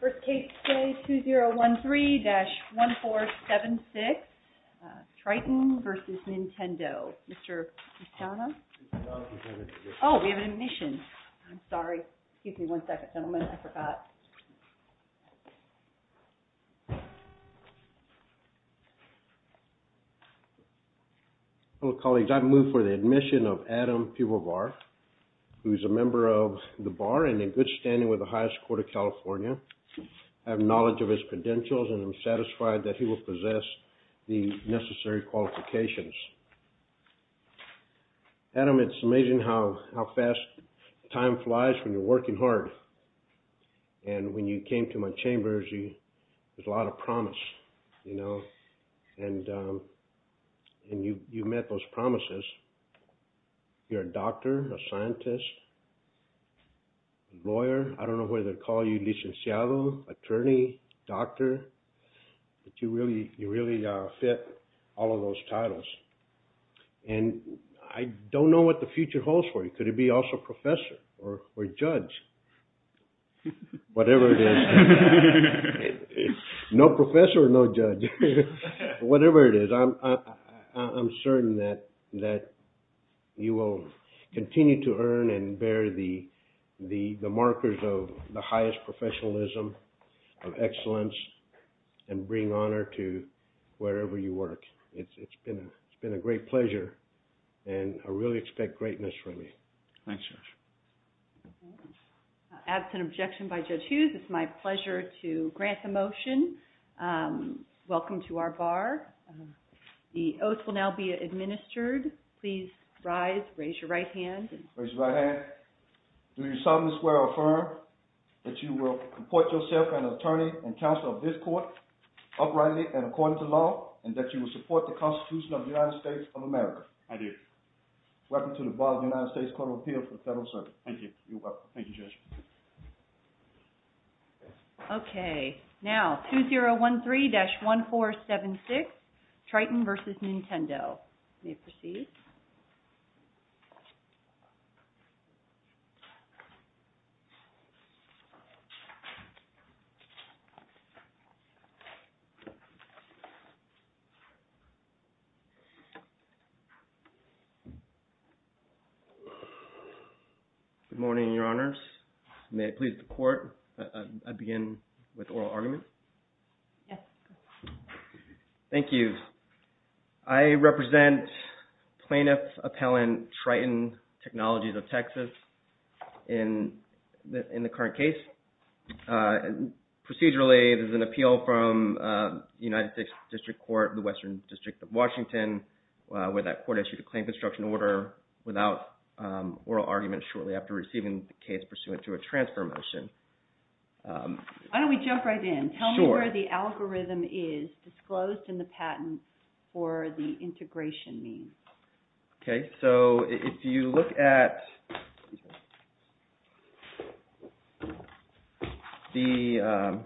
First case today, 2013-1476, Triton v. Nintendo. Mr. McDonough? Oh, we have an admission. I'm sorry. Excuse me one second, gentlemen. I forgot. Hello, colleagues. I've moved for the admission of Adam Pivovar, who's a member of the bar and in good standing with the highest court of California. I have knowledge of his credentials and I'm satisfied that he will possess the necessary qualifications. Adam, it's amazing how fast time flies when you're working hard. And when you came to my chambers, there was a lot of promise, you know, and you met those promises. You're a doctor, a scientist, lawyer. I don't know whether to call you licenciado, attorney, doctor. But you really fit all of those titles. And I don't know what the future holds for you. Could it be also professor or judge? Whatever it is. No professor, no judge. Whatever it is, I'm certain that you will continue to earn and bear the markers of the highest professionalism, of excellence, and bring honor to wherever you work. It's been a great pleasure and I really expect greatness from you. Absent objection by Judge Hughes, it's my pleasure to grant the motion. Welcome to our bar. The oath will now be administered. Please rise, raise your right hand. Raise your right hand. Do you solemnly swear or affirm that you will report yourself an attorney and counsel of this court, uprightly and according to law, and that you will support the Constitution of the United States of America? I do. Welcome to the Bar of the United States Court of Appeal for the Federal Circuit. Thank you. You're welcome. Thank you, Judge. Okay. Now, 2013-1476, Triton versus Nintendo. You may proceed. Good morning, your honors. May it please the court that I begin with oral argument? Yes. Thank you. I represent plaintiff, appellant, Triton Technologies of Texas in the current case. Procedurally, there's an appeal from United States District Court of the Western District of Washington where that court issued a claim construction order without oral argument shortly after receiving the case pursuant to a transfer motion. Why don't we jump right in? Tell me where the algorithm is disclosed in the patent for the integration means. Okay. So if you look at the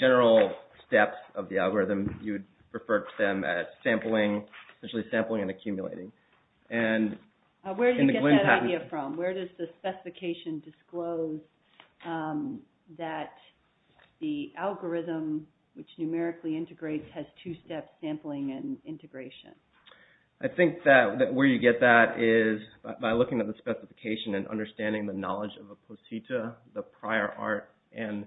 general steps of the algorithm, you would refer to them as sampling, essentially sampling and accumulating. Where do you get that idea from? Where does the specification disclose that the algorithm, which numerically integrates, has two-step sampling and integration? I think that where you get that is by looking at the specification and understanding the knowledge of a placenta, the prior art, and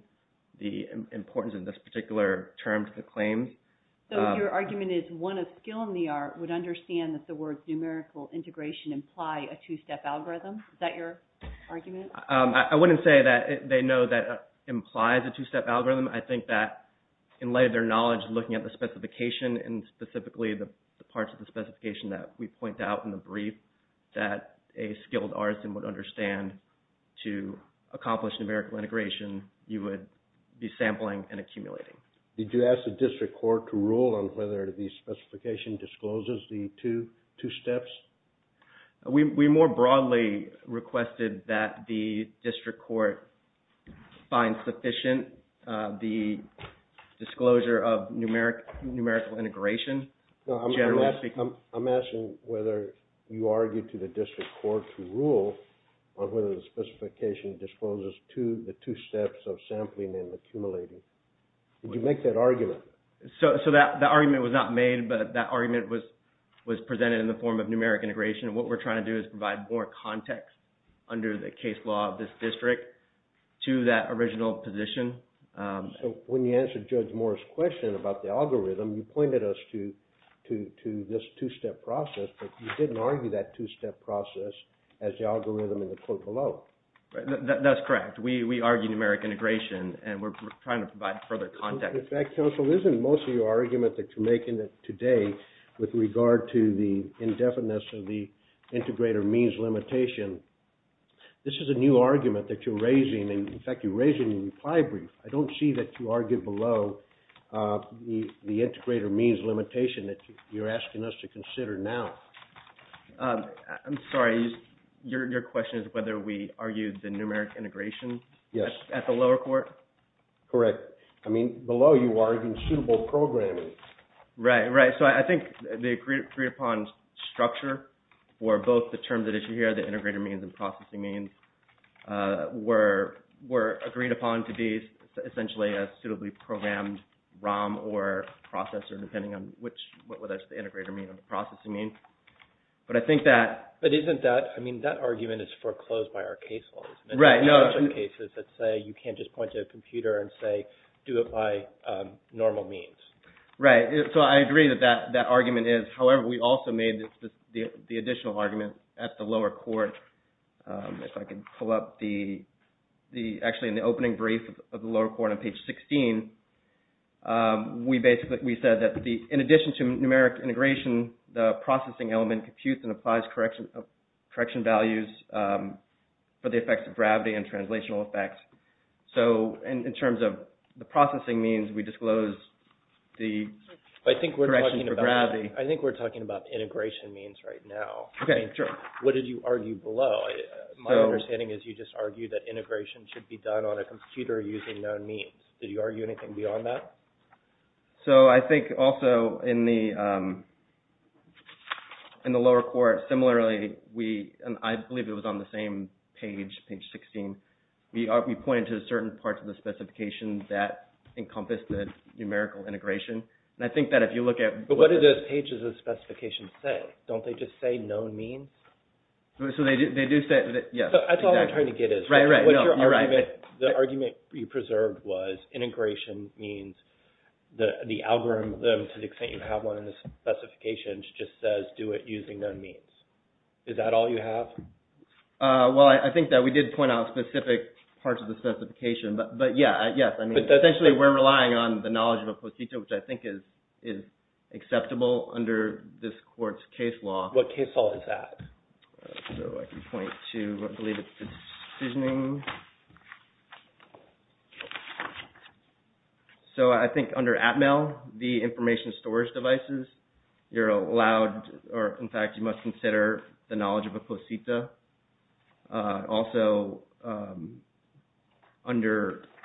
the importance of this particular term to the claim. So your argument is one of skill in the art would understand that the words numerical integration imply a two-step algorithm? Is that your argument? I wouldn't say that they know that it implies a two-step algorithm. I think that in light of their knowledge of looking at the specification and specifically the parts of the specification that we point out in the brief that a skilled artisan would understand to accomplish numerical integration, you would be sampling and accumulating. Did you ask the district court to rule on whether the specification discloses the two steps? We more broadly requested that the district court find sufficient the disclosure of numerical integration. I'm asking whether you argued to the district court to rule on whether the specification discloses the two steps of sampling and accumulating. Did you make that argument? So that argument was not made, but that argument was presented in the form of numeric integration. What we're trying to do is provide more context under the case law of this district to that original position. So when you answered Judge Morris' question about the algorithm, you pointed us to this two-step process, but you didn't argue that two-step process as the algorithm in the court below. That's correct. We argued numeric integration, and we're trying to provide further context. In fact, counsel, isn't most of your argument that you're making today with regard to the indefiniteness of the integrator means limitation, this is a new argument that you're raising. In fact, you raised it in the reply brief. I don't see that you argued below the integrator means limitation that you're asking us to consider now. I'm sorry. Your question is whether we argued the numeric integration at the lower court? Correct. I mean, below you argued suitable programming. Right, right. So I think the agreed-upon structure for both the terms at issue here, the integrator means and processing means, were agreed upon to be essentially a suitably programmed ROM or processor, depending on whether it's the integrator means or the processing means. But I think that… But isn't that – I mean, that argument is foreclosed by our case law. Right. In some cases, let's say you can't just point to a computer and say, do it by normal means. Right. So I agree that that argument is. However, we also made the additional argument at the lower court. If I can pull up the – actually, in the opening brief of the lower court on page 16, we basically – we said that in addition to numeric integration, the processing element computes and applies correction values for the effects of gravity and translational effects. So in terms of the processing means, we disclose the correction for gravity. I think we're talking about integration means right now. Okay, sure. What did you argue below? My understanding is you just argued that integration should be done on a computer using known means. Did you argue anything beyond that? So I think also in the lower court, similarly, we – and I believe it was on the same page, page 16. We pointed to certain parts of the specification that encompassed the numerical integration. And I think that if you look at – But what did those pages of the specification say? Don't they just say known means? So they do say – yes, exactly. That's what I think it is. Right, right. The argument you preserved was integration means the algorithm, to the extent you have one in the specifications, just says do it using known means. Is that all you have? Well, I think that we did point out specific parts of the specification, but yes. Essentially, we're relying on the knowledge of a post-it, which I think is acceptable under this court's case law. What case law is that? So I can point to – I believe it's the decisioning. So I think under ATML, the information storage devices, you're allowed – or in fact, you must consider the knowledge of a post-ita. Also, under –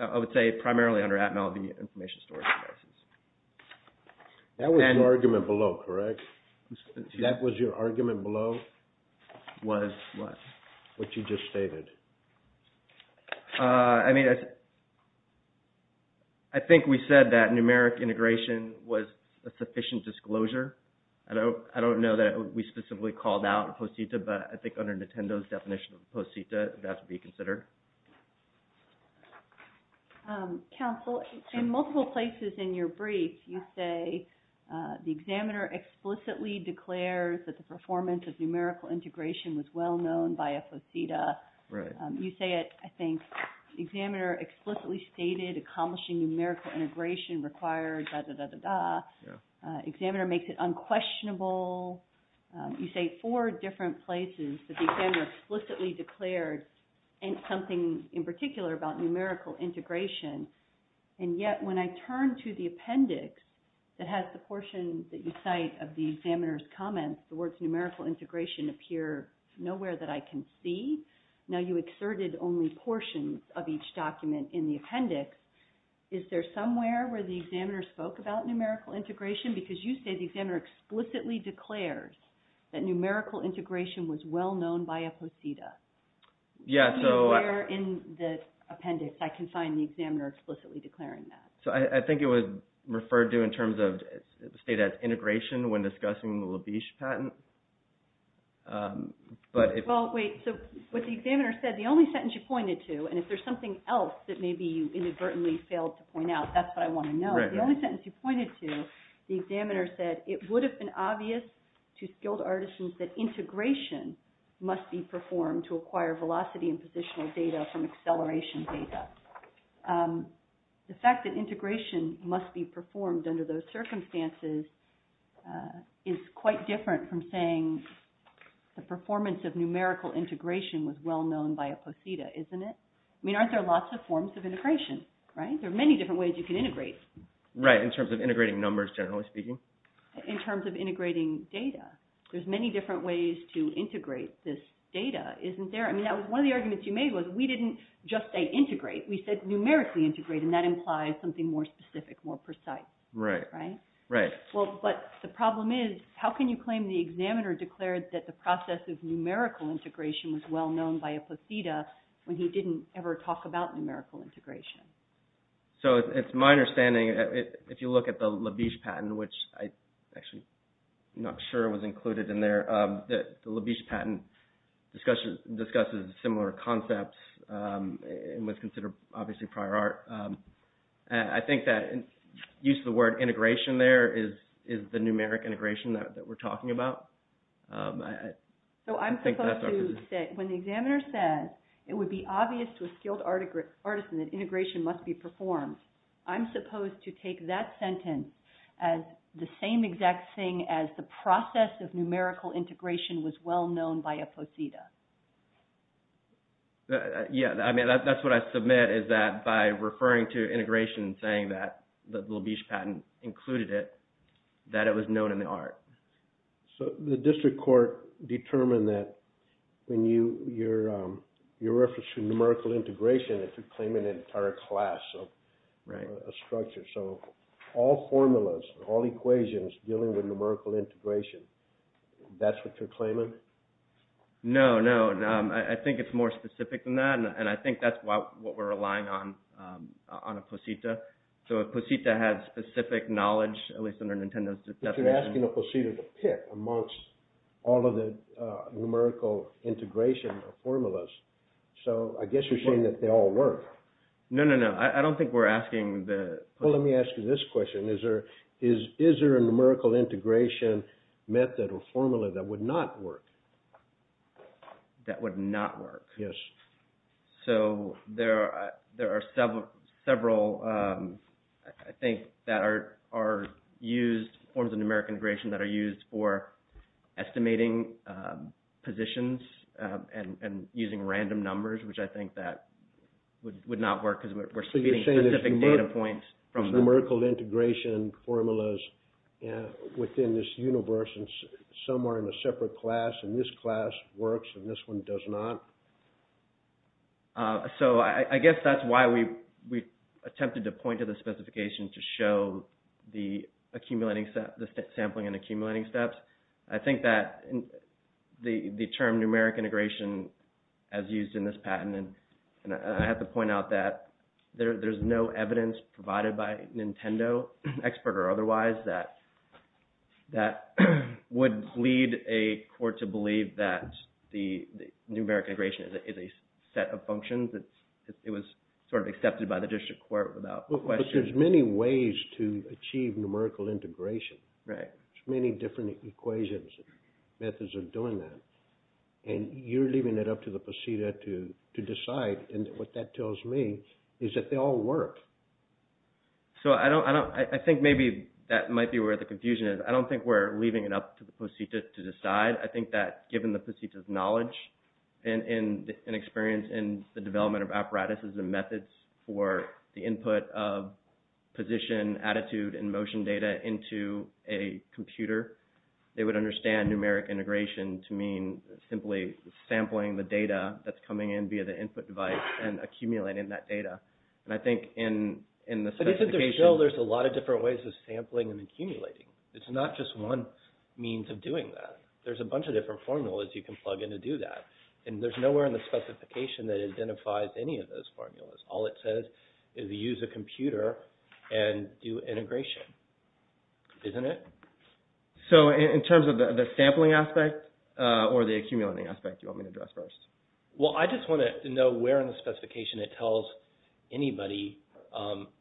I would say primarily under ATML, the information storage devices. That was your argument below, correct? That was your argument below? Was what? What you just stated. I mean, I think we said that numeric integration was a sufficient disclosure. I don't know that we specifically called out post-ita, but I think under Nintendo's definition of post-ita, that would be considered. Counsel, in multiple places in your brief, you say the examiner explicitly declares that the performance of numerical integration was well-known by a post-ita. Right. You say it, I think, the examiner explicitly stated accomplishing numerical integration required, dah, dah, dah, dah, dah. Yeah. Examiner makes it unquestionable. You say four different places that the examiner explicitly declared something in particular about numerical integration. And yet, when I turn to the appendix that has the portions that you cite of the examiner's comments, the words numerical integration appear nowhere that I can see. Now, you exerted only portions of each document in the appendix. Is there somewhere where the examiner spoke about numerical integration? Because you say the examiner explicitly declares that numerical integration was well-known by a post-ita. Yeah, so – Nowhere in the appendix I can find the examiner explicitly declaring that. So, I think it was referred to in terms of, say, that integration when discussing the Labish patent. But if – Well, wait. So, what the examiner said, the only sentence you pointed to, and if there's something else that maybe you inadvertently failed to point out, that's what I want to know. Right, right. The only sentence you pointed to, the examiner said it would have been obvious to skilled artisans that integration must be performed to acquire velocity and positional data from acceleration data. The fact that integration must be performed under those circumstances is quite different from saying the performance of numerical integration was well-known by a post-ita, isn't it? I mean, aren't there lots of forms of integration, right? There are many different ways you can integrate. Right, in terms of integrating numbers, generally speaking. In terms of integrating data. There's many different ways to integrate this data, isn't there? I mean, one of the arguments you made was we didn't just say integrate. We said numerically integrate, and that implies something more specific, more precise. Right. Right? Right. Well, but the problem is, how can you claim the examiner declared that the process of numerical integration was well-known by a post-ita when he didn't ever talk about numerical integration? So, it's my understanding, if you look at the Labish patent, which I'm actually not sure was included in there, the Labish patent discusses similar concepts and was considered, obviously, prior art. I think that use of the word integration there is the numeric integration that we're talking about. So, I'm supposed to say, when the examiner said it would be obvious to a skilled artisan that integration must be performed, I'm supposed to take that sentence as the same exact thing as the process of numerical integration was well-known by a post-ita. Yeah, I mean, that's what I submit, is that by referring to integration and saying that the Labish patent included it, that it was known in the art. So, the district court determined that when you're referencing numerical integration, that you're claiming an entire class of structure. So, all formulas, all equations dealing with numerical integration, that's what you're claiming? No, no. I think it's more specific than that, and I think that's what we're relying on, on a post-ita. So, if a post-ita has specific knowledge, at least under Nintendo's definition… But you're asking a post-ita to pick amongst all of the numerical integration formulas. So, I guess you're saying that they all work. No, no, no. I don't think we're asking the… Well, let me ask you this question. Is there a numerical integration method or formula that would not work? That would not work? Yes. So, there are several, I think, that are used, forms of numeric integration that are used for estimating positions and using random numbers, which I think that would not work because we're speeding specific data points from… So, I guess that's why we attempted to point to the specification to show the sampling and accumulating steps. I think that the term numeric integration, as used in this patent, and I have to point out that there's no evidence provided by Nintendo, expert or otherwise, that would lead a court to believe that the numeric integration is a set of functions. It was sort of accepted by the district court without question. But there's many ways to achieve numerical integration. Right. There's many different equations and methods of doing that, and you're leaving it up to the post-ita to decide. And what that tells me is that they all work. So, I think maybe that might be where the confusion is. I don't think we're leaving it up to the post-ita to decide. I think that given the post-ita's knowledge and experience in the development of apparatuses and methods for the input of position, attitude, and motion data into a computer, they would understand numeric integration to mean simply sampling the data that's coming in via the input device and accumulating that data. But isn't there still a lot of different ways of sampling and accumulating? It's not just one means of doing that. There's a bunch of different formulas you can plug in to do that, and there's nowhere in the specification that identifies any of those formulas. All it says is use a computer and do integration. Isn't it? So, in terms of the sampling aspect or the accumulating aspect, you want me to address first? Well, I just want to know where in the specification it tells anybody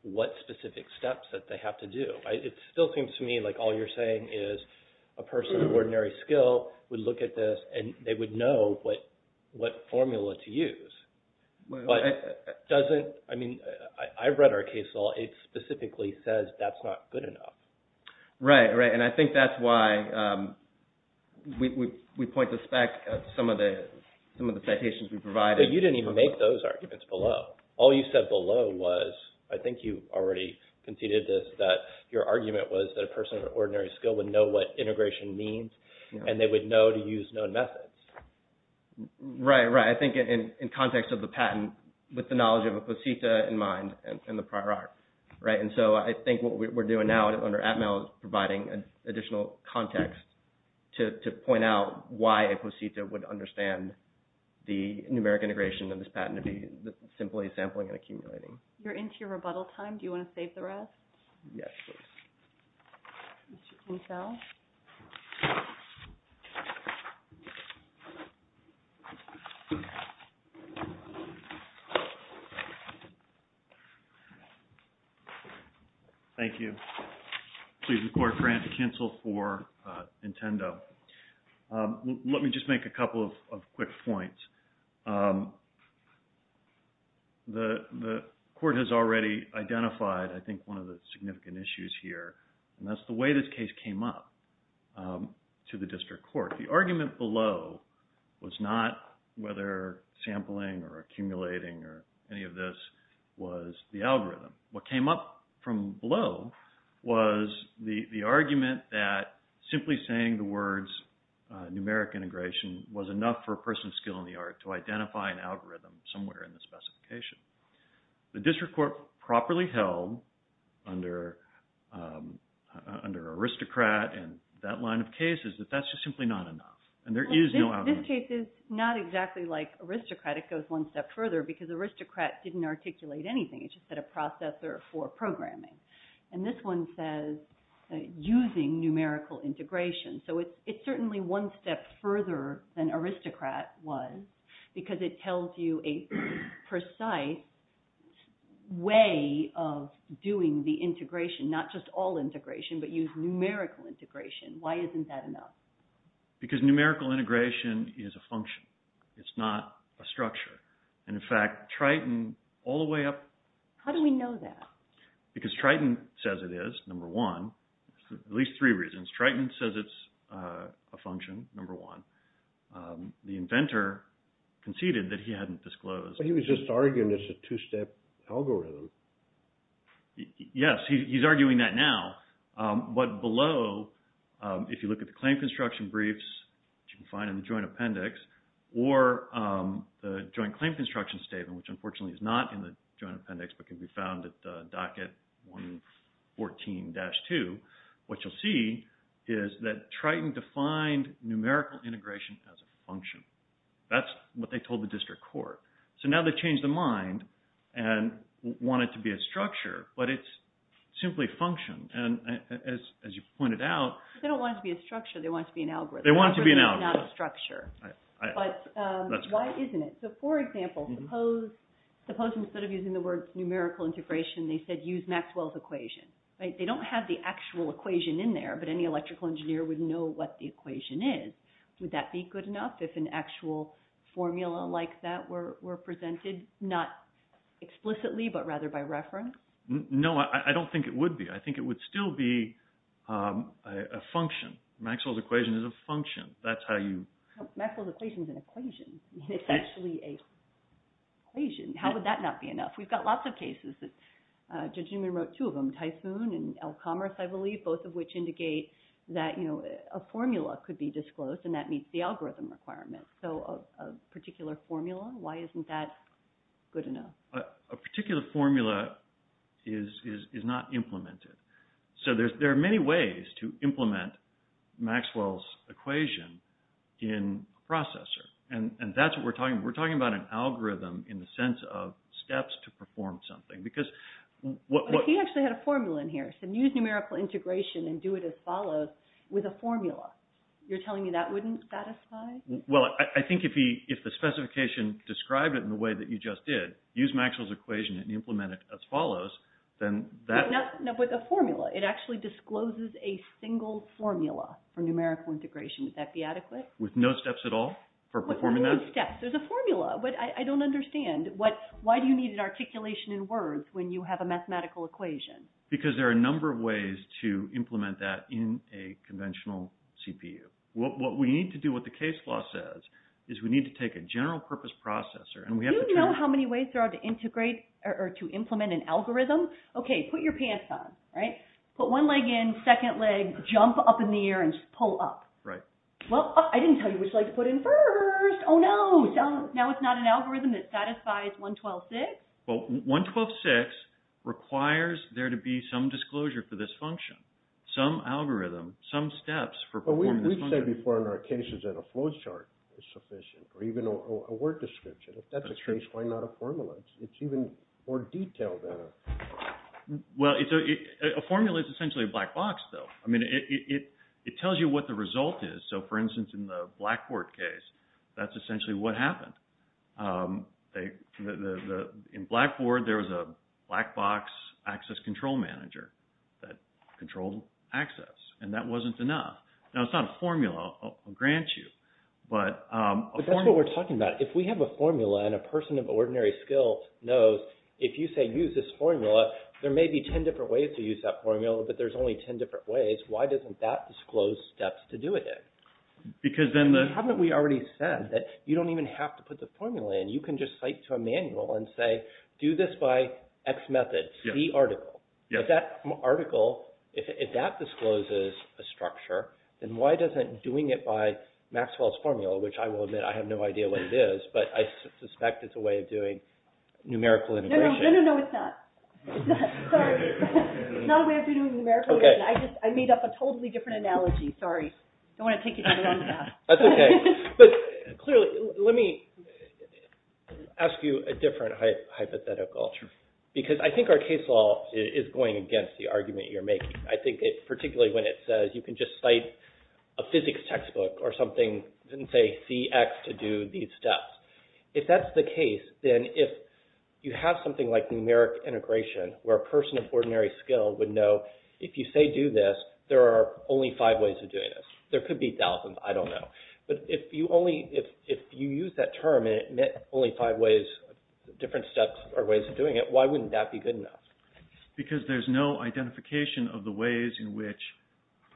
what specific steps that they have to do. It still seems to me like all you're saying is a person of ordinary skill would look at this and they would know what formula to use. But doesn't, I mean, I've read our case law. It specifically says that's not good enough. Right, right, and I think that's why we point this back to some of the citations we provided. But you didn't even make those arguments below. All you said below was, I think you already conceded this, that your argument was that a person of ordinary skill would know what integration means, and they would know to use known methods. Right, right, I think in context of the patent, with the knowledge of a cosita in mind and the prior art. Right, and so I think what we're doing now under Atmel is providing additional context to point out why a cosita would understand the numeric integration of this patent to be simply sampling and accumulating. You're into your rebuttal time. Do you want to save the rest? Yes, please. Mr. Kinkel. Thank you. Please record for cancel for Nintendo. Let me just make a couple of quick points. The court has already identified I think one of the significant issues here, and that's the way this case came up to the district court. The argument below was not whether sampling or accumulating or any of this was the algorithm. What came up from below was the argument that simply saying the words numeric integration was enough for a person of skill in the art to identify an algorithm somewhere in the specification. The district court properly held under aristocrat and that line of cases that that's just simply not enough, and there is no algorithm. This case is not exactly like aristocrat. It goes one step further because aristocrat didn't articulate anything. It just said a processor for programming, and this one says using numerical integration. So it's certainly one step further than aristocrat was because it tells you a precise way of doing the integration, not just all integration, but use numerical integration. Why isn't that enough? Because numerical integration is a function. It's not a structure, and in fact, Triton all the way up. How do we know that? Because Triton says it is, number one, at least three reasons. Triton says it's a function, number one. The inventor conceded that he hadn't disclosed. He was just arguing it's a two-step algorithm. Yes, he's arguing that now, but below, if you look at the claim construction briefs, which you can find in the joint appendix, or the joint claim construction statement, which unfortunately is not in the joint appendix but can be found at the docket 114-2, what you'll see is that Triton defined numerical integration as a function. That's what they told the district court. So now they've changed their mind and want it to be a structure, but it's simply function, and as you pointed out… They don't want it to be a structure. They want it to be an algorithm. They want it to be an algorithm. It's not a structure. That's correct. But why isn't it? So for example, suppose instead of using the words numerical integration, they said use Maxwell's equation. They don't have the actual equation in there, but any electrical engineer would know what the equation is. Would that be good enough if an actual formula like that were presented, not explicitly but rather by reference? No, I don't think it would be. I think it would still be a function. Maxwell's equation is a function. That's how you… Maxwell's equation is an equation. It's actually an equation. How would that not be enough? We've got lots of cases. Judge Newman wrote two of them, Typhoon and El Commerce, I believe, both of which indicate that a formula could be disclosed, and that meets the algorithm requirement. So a particular formula, why isn't that good enough? A particular formula is not implemented. So there are many ways to implement Maxwell's equation in a processor, and that's what we're talking about. We're talking about an algorithm in the sense of steps to perform something because… But he actually had a formula in here. He said use numerical integration and do it as follows with a formula. You're telling me that wouldn't satisfy? Well, I think if the specification described it in the way that you just did, use Maxwell's equation and implement it as follows, then that… No, but the formula, it actually discloses a single formula for numerical integration. Would that be adequate? With no steps at all for performing that? No steps. There's a formula, but I don't understand. Why do you need an articulation in words when you have a mathematical equation? Because there are a number of ways to implement that in a conventional CPU. What we need to do, what the case law says, is we need to take a general purpose processor and we have to… Do you know how many ways there are to integrate or to implement an algorithm? Okay, put your pants on, right? Put one leg in, second leg, jump up in the air and just pull up. Right. Well, I didn't tell you which leg to put in first. Oh, no. Now it's not an algorithm that satisfies 112.6? Well, 112.6 requires there to be some disclosure for this function, some algorithm, some steps for performing this function. But we've said before in our cases that a flow chart is sufficient or even a word description. If that's the case, why not a formula? It's even more detailed than a… Well, a formula is essentially a black box, though. I mean, it tells you what the result is. So, for instance, in the Blackboard case, that's essentially what happened. In Blackboard, there was a black box access control manager that controlled access, and that wasn't enough. Now, it's not a formula, I'll grant you, but a formula… But that's what we're talking about. If we have a formula and a person of ordinary skill knows, if you say use this formula, there may be 10 different ways to use that formula, but there's only 10 different ways. Why doesn't that disclose steps to do it in? Because then the… Haven't we already said that you don't even have to put the formula in? You can just cite to a manual and say, do this by X method, C article. If that article, if that discloses a structure, then why doesn't doing it by Maxwell's formula, which I will admit I have no idea what it is, but I suspect it's a way of doing numerical integration… Sorry. It's not a way of doing numerical integration. I made up a totally different analogy. Sorry. I don't want to take you down the wrong path. That's okay. But clearly, let me ask you a different hypothetical. Sure. Because I think our case law is going against the argument you're making. I think particularly when it says you can just cite a physics textbook or something and say CX to do these steps. If that's the case, then if you have something like numeric integration where a person of ordinary skill would know, if you say do this, there are only five ways of doing this. There could be thousands. I don't know. But if you only, if you use that term and it meant only five ways, different steps or ways of doing it, why wouldn't that be good enough? Because there's no identification of the ways in which…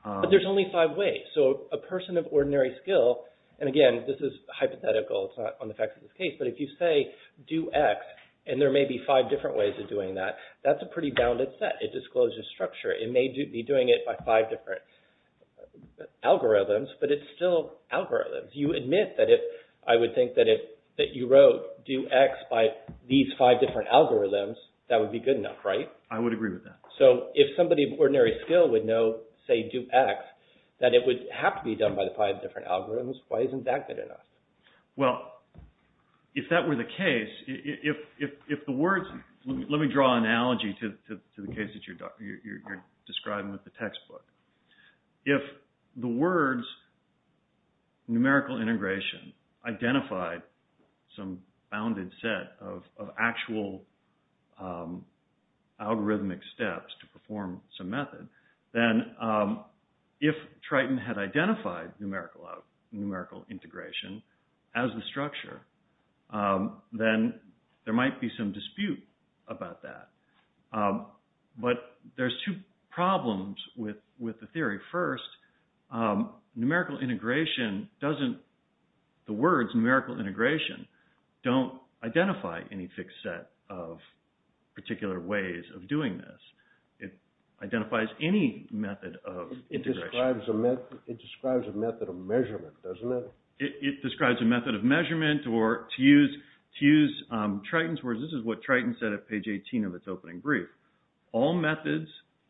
But there's only five ways. So a person of ordinary skill, and again, this is hypothetical. It's not on the facts of this case. But if you say do X and there may be five different ways of doing that, that's a pretty bounded set. It discloses structure. It may be doing it by five different algorithms, but it's still algorithms. You admit that if I would think that you wrote do X by these five different algorithms, that would be good enough, right? I would agree with that. So if somebody of ordinary skill would know, say, do X, that it would have to be done by the five different algorithms, why isn't that good enough? Well, if that were the case, if the words… Let me draw an analogy to the case that you're describing with the textbook. If the words numerical integration identified some bounded set of actual algorithmic steps to perform some method, then if Triton had identified numerical integration as the structure, then there might be some dispute about that. But there's two problems with the theory. First, numerical integration doesn't… The words numerical integration don't identify any fixed set of particular ways of doing this. It identifies any method of integration. It describes a method of measurement, doesn't it? It describes a method of measurement, or to use Triton's words, this is what Triton said at page 18 of its opening brief. All methods,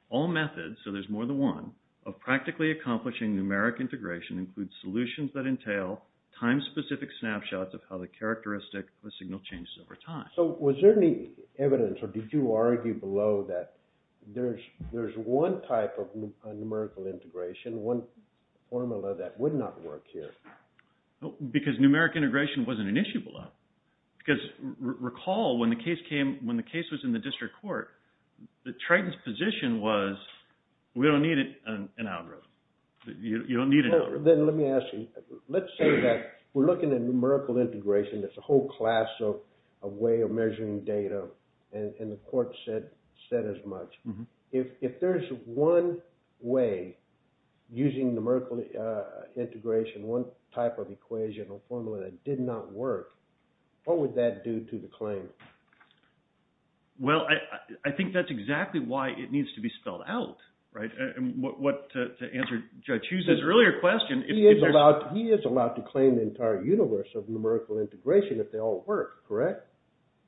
so there's more than one, of practically accomplishing numeric integration include solutions that entail time-specific snapshots of how the characteristic of a signal changes over time. So was there any evidence or did you argue below that there's one type of numerical integration, one formula that would not work here? Because numeric integration wasn't an issue below. Because recall, when the case was in the district court, Triton's position was, we don't need an algorithm. You don't need an algorithm. Then let me ask you, let's say that we're looking at numerical integration, that's a whole class of way of measuring data, and the court said as much. If there's one way using numerical integration, one type of equation or formula that did not work, what would that do to the claim? Well, I think that's exactly why it needs to be spelled out, right? To answer Judge Hughes' earlier question. He is allowed to claim the entire universe of numerical integration if they all work, correct?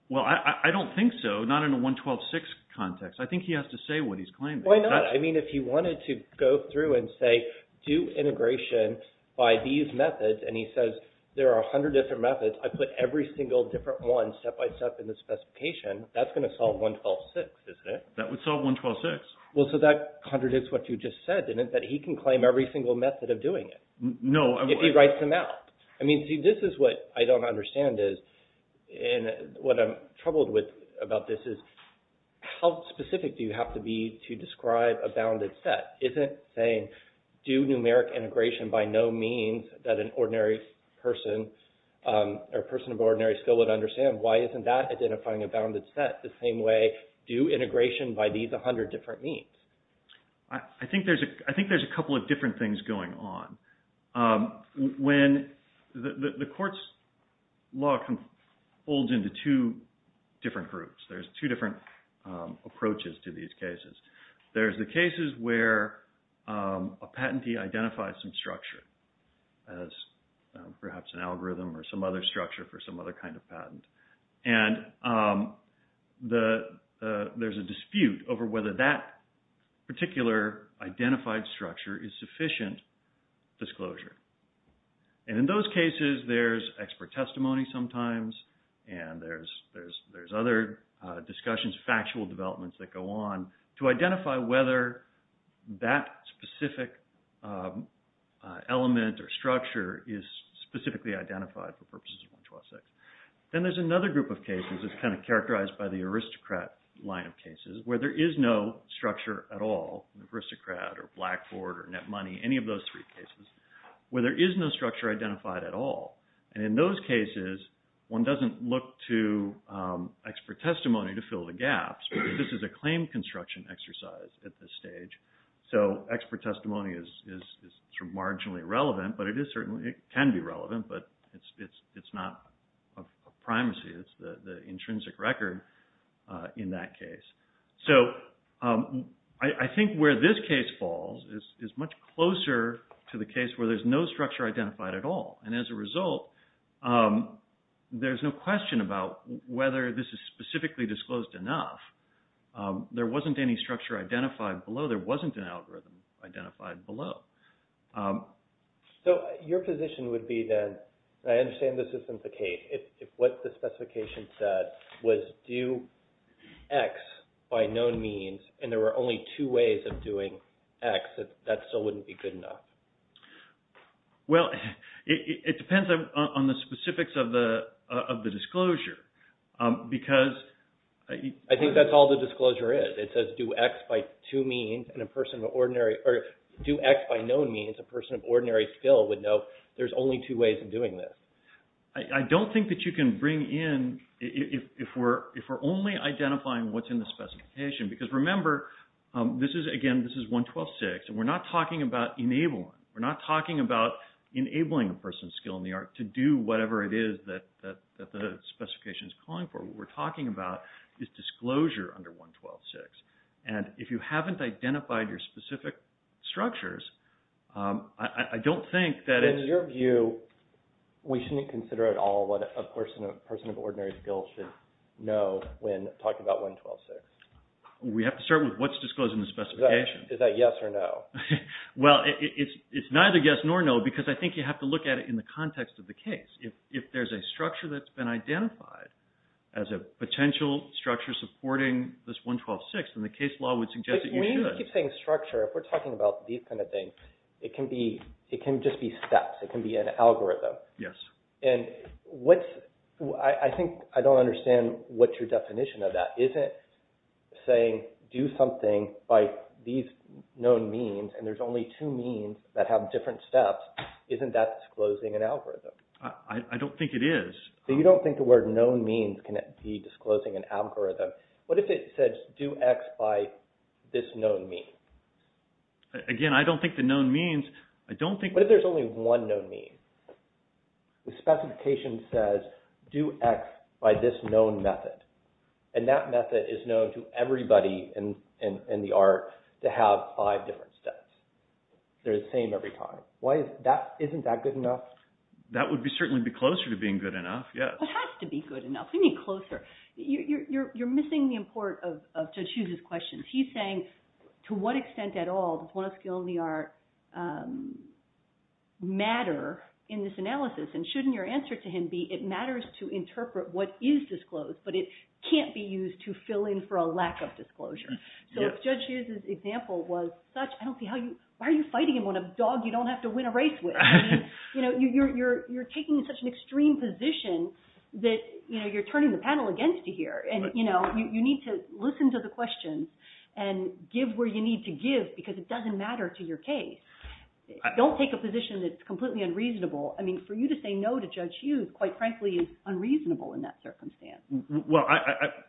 Well, I don't think so, not in a 112-6 context. I think he has to say what he's claiming. Why not? I mean, if he wanted to go through and say, do integration by these methods, and he says there are 100 different methods, I put every single different one step-by-step in the specification, that's going to solve 112-6, isn't it? That would solve 112-6. Well, so that contradicts what you just said, didn't it? That he can claim every single method of doing it. No. If he writes them out. I mean, see, this is what I don't understand is, and what I'm troubled with about this is, how specific do you have to be to describe a bounded set? Isn't saying, do numeric integration by no means that an ordinary person or person of ordinary skill would understand, why isn't that identifying a bounded set the same way, do integration by these 100 different means? I think there's a couple of different things going on. When the court's law folds into two different groups, there's two different approaches to these cases. There's the cases where a patentee identifies some structure as perhaps an algorithm or some other structure for some other kind of patent. And there's a dispute over whether that particular identified structure is sufficient disclosure. And in those cases, there's expert testimony sometimes, and there's other discussions, factual developments that go on, to identify whether that specific element or structure is specifically identified for purposes of 112-6. Then there's another group of cases that's kind of characterized by the aristocrat line of cases, where there is no structure at all, aristocrat or blackboard or net money, any of those three cases, where there is no structure identified at all. And in those cases, one doesn't look to expert testimony to fill the gaps. So expert testimony is marginally relevant, but it can be relevant, but it's not a primacy. It's the intrinsic record in that case. So I think where this case falls is much closer to the case where there's no structure identified at all. And as a result, there's no question about whether this is specifically disclosed enough. There wasn't any structure identified below. There wasn't an algorithm identified below. So your position would be then, and I understand this isn't the case, if what the specification said was do X by no means, and there were only two ways of doing X, that still wouldn't be good enough? Well, it depends on the specifics of the disclosure. I think that's all the disclosure is. It says do X by no means, a person of ordinary skill would know there's only two ways of doing this. I don't think that you can bring in, if we're only identifying what's in the specification, because remember, again, this is 112.6, and we're not talking about enabling. We're not talking about enabling a person's skill in the art to do whatever it is that the specification is calling for. What we're talking about is disclosure under 112.6. And if you haven't identified your specific structures, I don't think that it's... In your view, we shouldn't consider at all what a person of ordinary skill should know when talking about 112.6? We have to start with what's disclosed in the specification. Is that yes or no? Well, it's neither yes nor no, because I think you have to look at it in the context of the case. If there's a structure that's been identified as a potential structure supporting this 112.6, then the case law would suggest that you should. When you keep saying structure, if we're talking about these kind of things, it can just be steps. It can be an algorithm. Yes. And I think I don't understand what your definition of that is. If it isn't saying do something by these known means, and there's only two means that have different steps, isn't that disclosing an algorithm? I don't think it is. You don't think the word known means can be disclosing an algorithm? What if it says do X by this known mean? Again, I don't think the known means... What if there's only one known mean? The specification says do X by this known method. And that method is known to everybody in the art to have five different steps. They're the same every time. Isn't that good enough? That would certainly be closer to being good enough, yes. It has to be good enough. What do you mean closer? You're missing the import of Judge Hughes's questions. He's saying to what extent at all does one of skill in the art matter in this analysis, and shouldn't your answer to him be it matters to interpret what is disclosed, but it can't be used to fill in for a lack of disclosure. So if Judge Hughes's example was such, I don't see how you... Why are you fighting him on a dog you don't have to win a race with? You're taking such an extreme position that you're turning the panel against you here, and you need to listen to the questions and give where you need to give because it doesn't matter to your case. Don't take a position that's completely unreasonable. I mean for you to say no to Judge Hughes quite frankly is unreasonable in that circumstance. Well,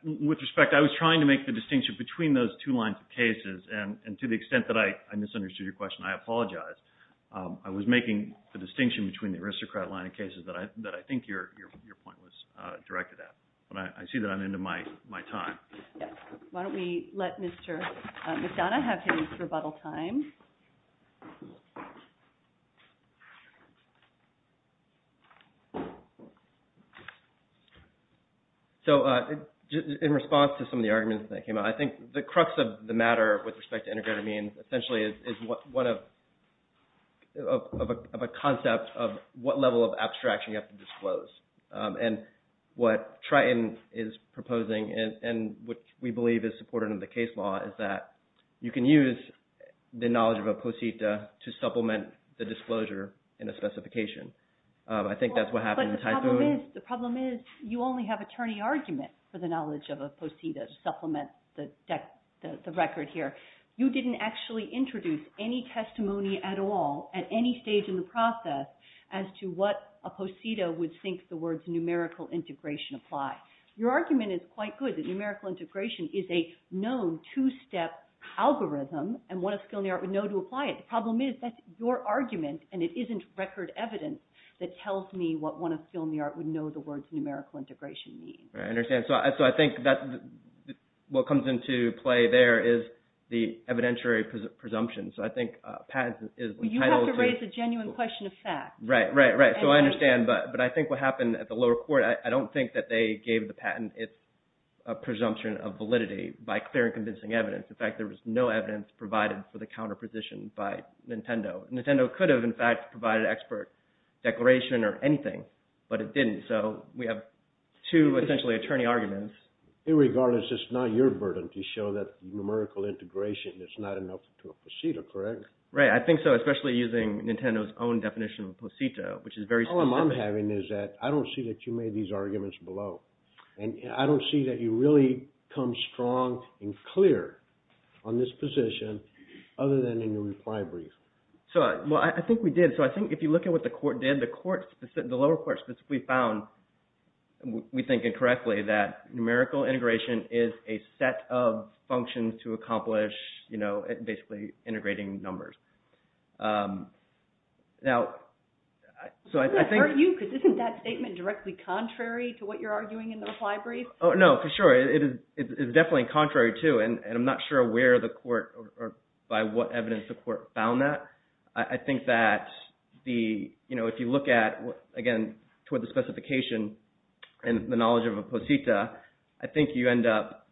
with respect, I was trying to make the distinction between those two lines of cases, and to the extent that I misunderstood your question, I apologize. I was making the distinction between the aristocrat line of cases that I think your point was directed at, but I see that I'm into my time. Why don't we let Mr. McDonough have his rebuttal time. So in response to some of the arguments that came out, I think the crux of the matter with respect to integrated means essentially is one of a concept of what level of abstraction you have to disclose. And what Triton is proposing, and what we believe is supported in the case law, is that you can use the knowledge of a posita to supplement the disclosure in a specification. I think that's what happened in Typhoon. But the problem is you only have attorney argument for the knowledge of a posita to supplement the record here. You didn't actually introduce any testimony at all at any stage in the process as to what a posita would think the words numerical integration apply. Your argument is quite good that numerical integration is a known two-step algorithm, and what a skill in the art would know to apply it. The problem is that your argument, and it isn't record evidence, that tells me what one of skill in the art would know the words numerical integration mean. I understand. So I think what comes into play there is the evidentiary presumption. So I think Pat is entitled to… Right, right, right. So I understand, but I think what happened at the lower court, I don't think that they gave the patent its presumption of validity by clear and convincing evidence. In fact, there was no evidence provided for the counterposition by Nintendo. Nintendo could have, in fact, provided expert declaration or anything, but it didn't. So we have two essentially attorney arguments. In regard, it's just not your burden to show that numerical integration is not enough to a posita, correct? Right, I think so, especially using Nintendo's own definition of posita, which is very… All I'm having is that I don't see that you made these arguments below, and I don't see that you really come strong and clear on this position other than in your reply brief. Well, I think we did. So I think if you look at what the court did, the lower court specifically found, we think incorrectly, that numerical integration is a set of functions to accomplish, you know, basically integrating numbers. Now, so I think… Doesn't that hurt you because isn't that statement directly contrary to what you're arguing in the reply brief? No, for sure. It is definitely contrary too, and I'm not sure where the court or by what evidence the court found that. I think that if you look at, again, toward the specification and the knowledge of a posita, I think you end up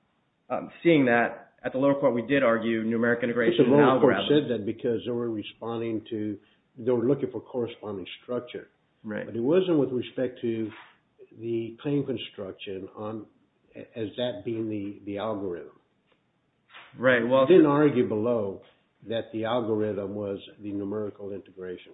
seeing that at the lower court we did argue numerical integration. The lower court said that because they were responding to, they were looking for corresponding structure. Right. But it wasn't with respect to the claim construction as that being the algorithm. Right, well… They didn't argue below that the algorithm was the numerical integration.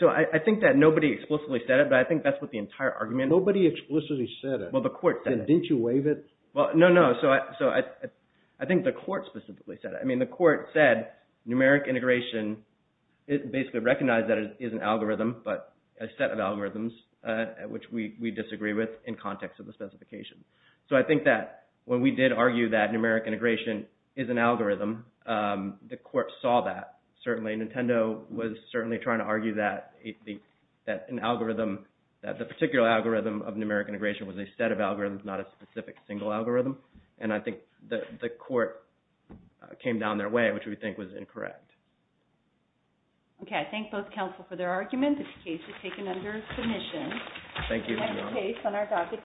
So I think that nobody explicitly said it, but I think that's what the entire argument… Nobody explicitly said it. Well, the court said it. Didn't you waive it? Well, no, no. So I think the court specifically said it. I mean the court said numeric integration, it basically recognized that it is an algorithm, but a set of algorithms which we disagree with in context of the specification. So I think that when we did argue that numeric integration is an algorithm, the court saw that. Certainly, Nintendo was certainly trying to argue that an algorithm, that the particular algorithm of numeric integration was a set of algorithms, not a specific single algorithm. And I think the court came down their way, which we think was incorrect. Okay, I thank both counsel for their argument. This case is taken under submission. Thank you. And that's the case on our docket.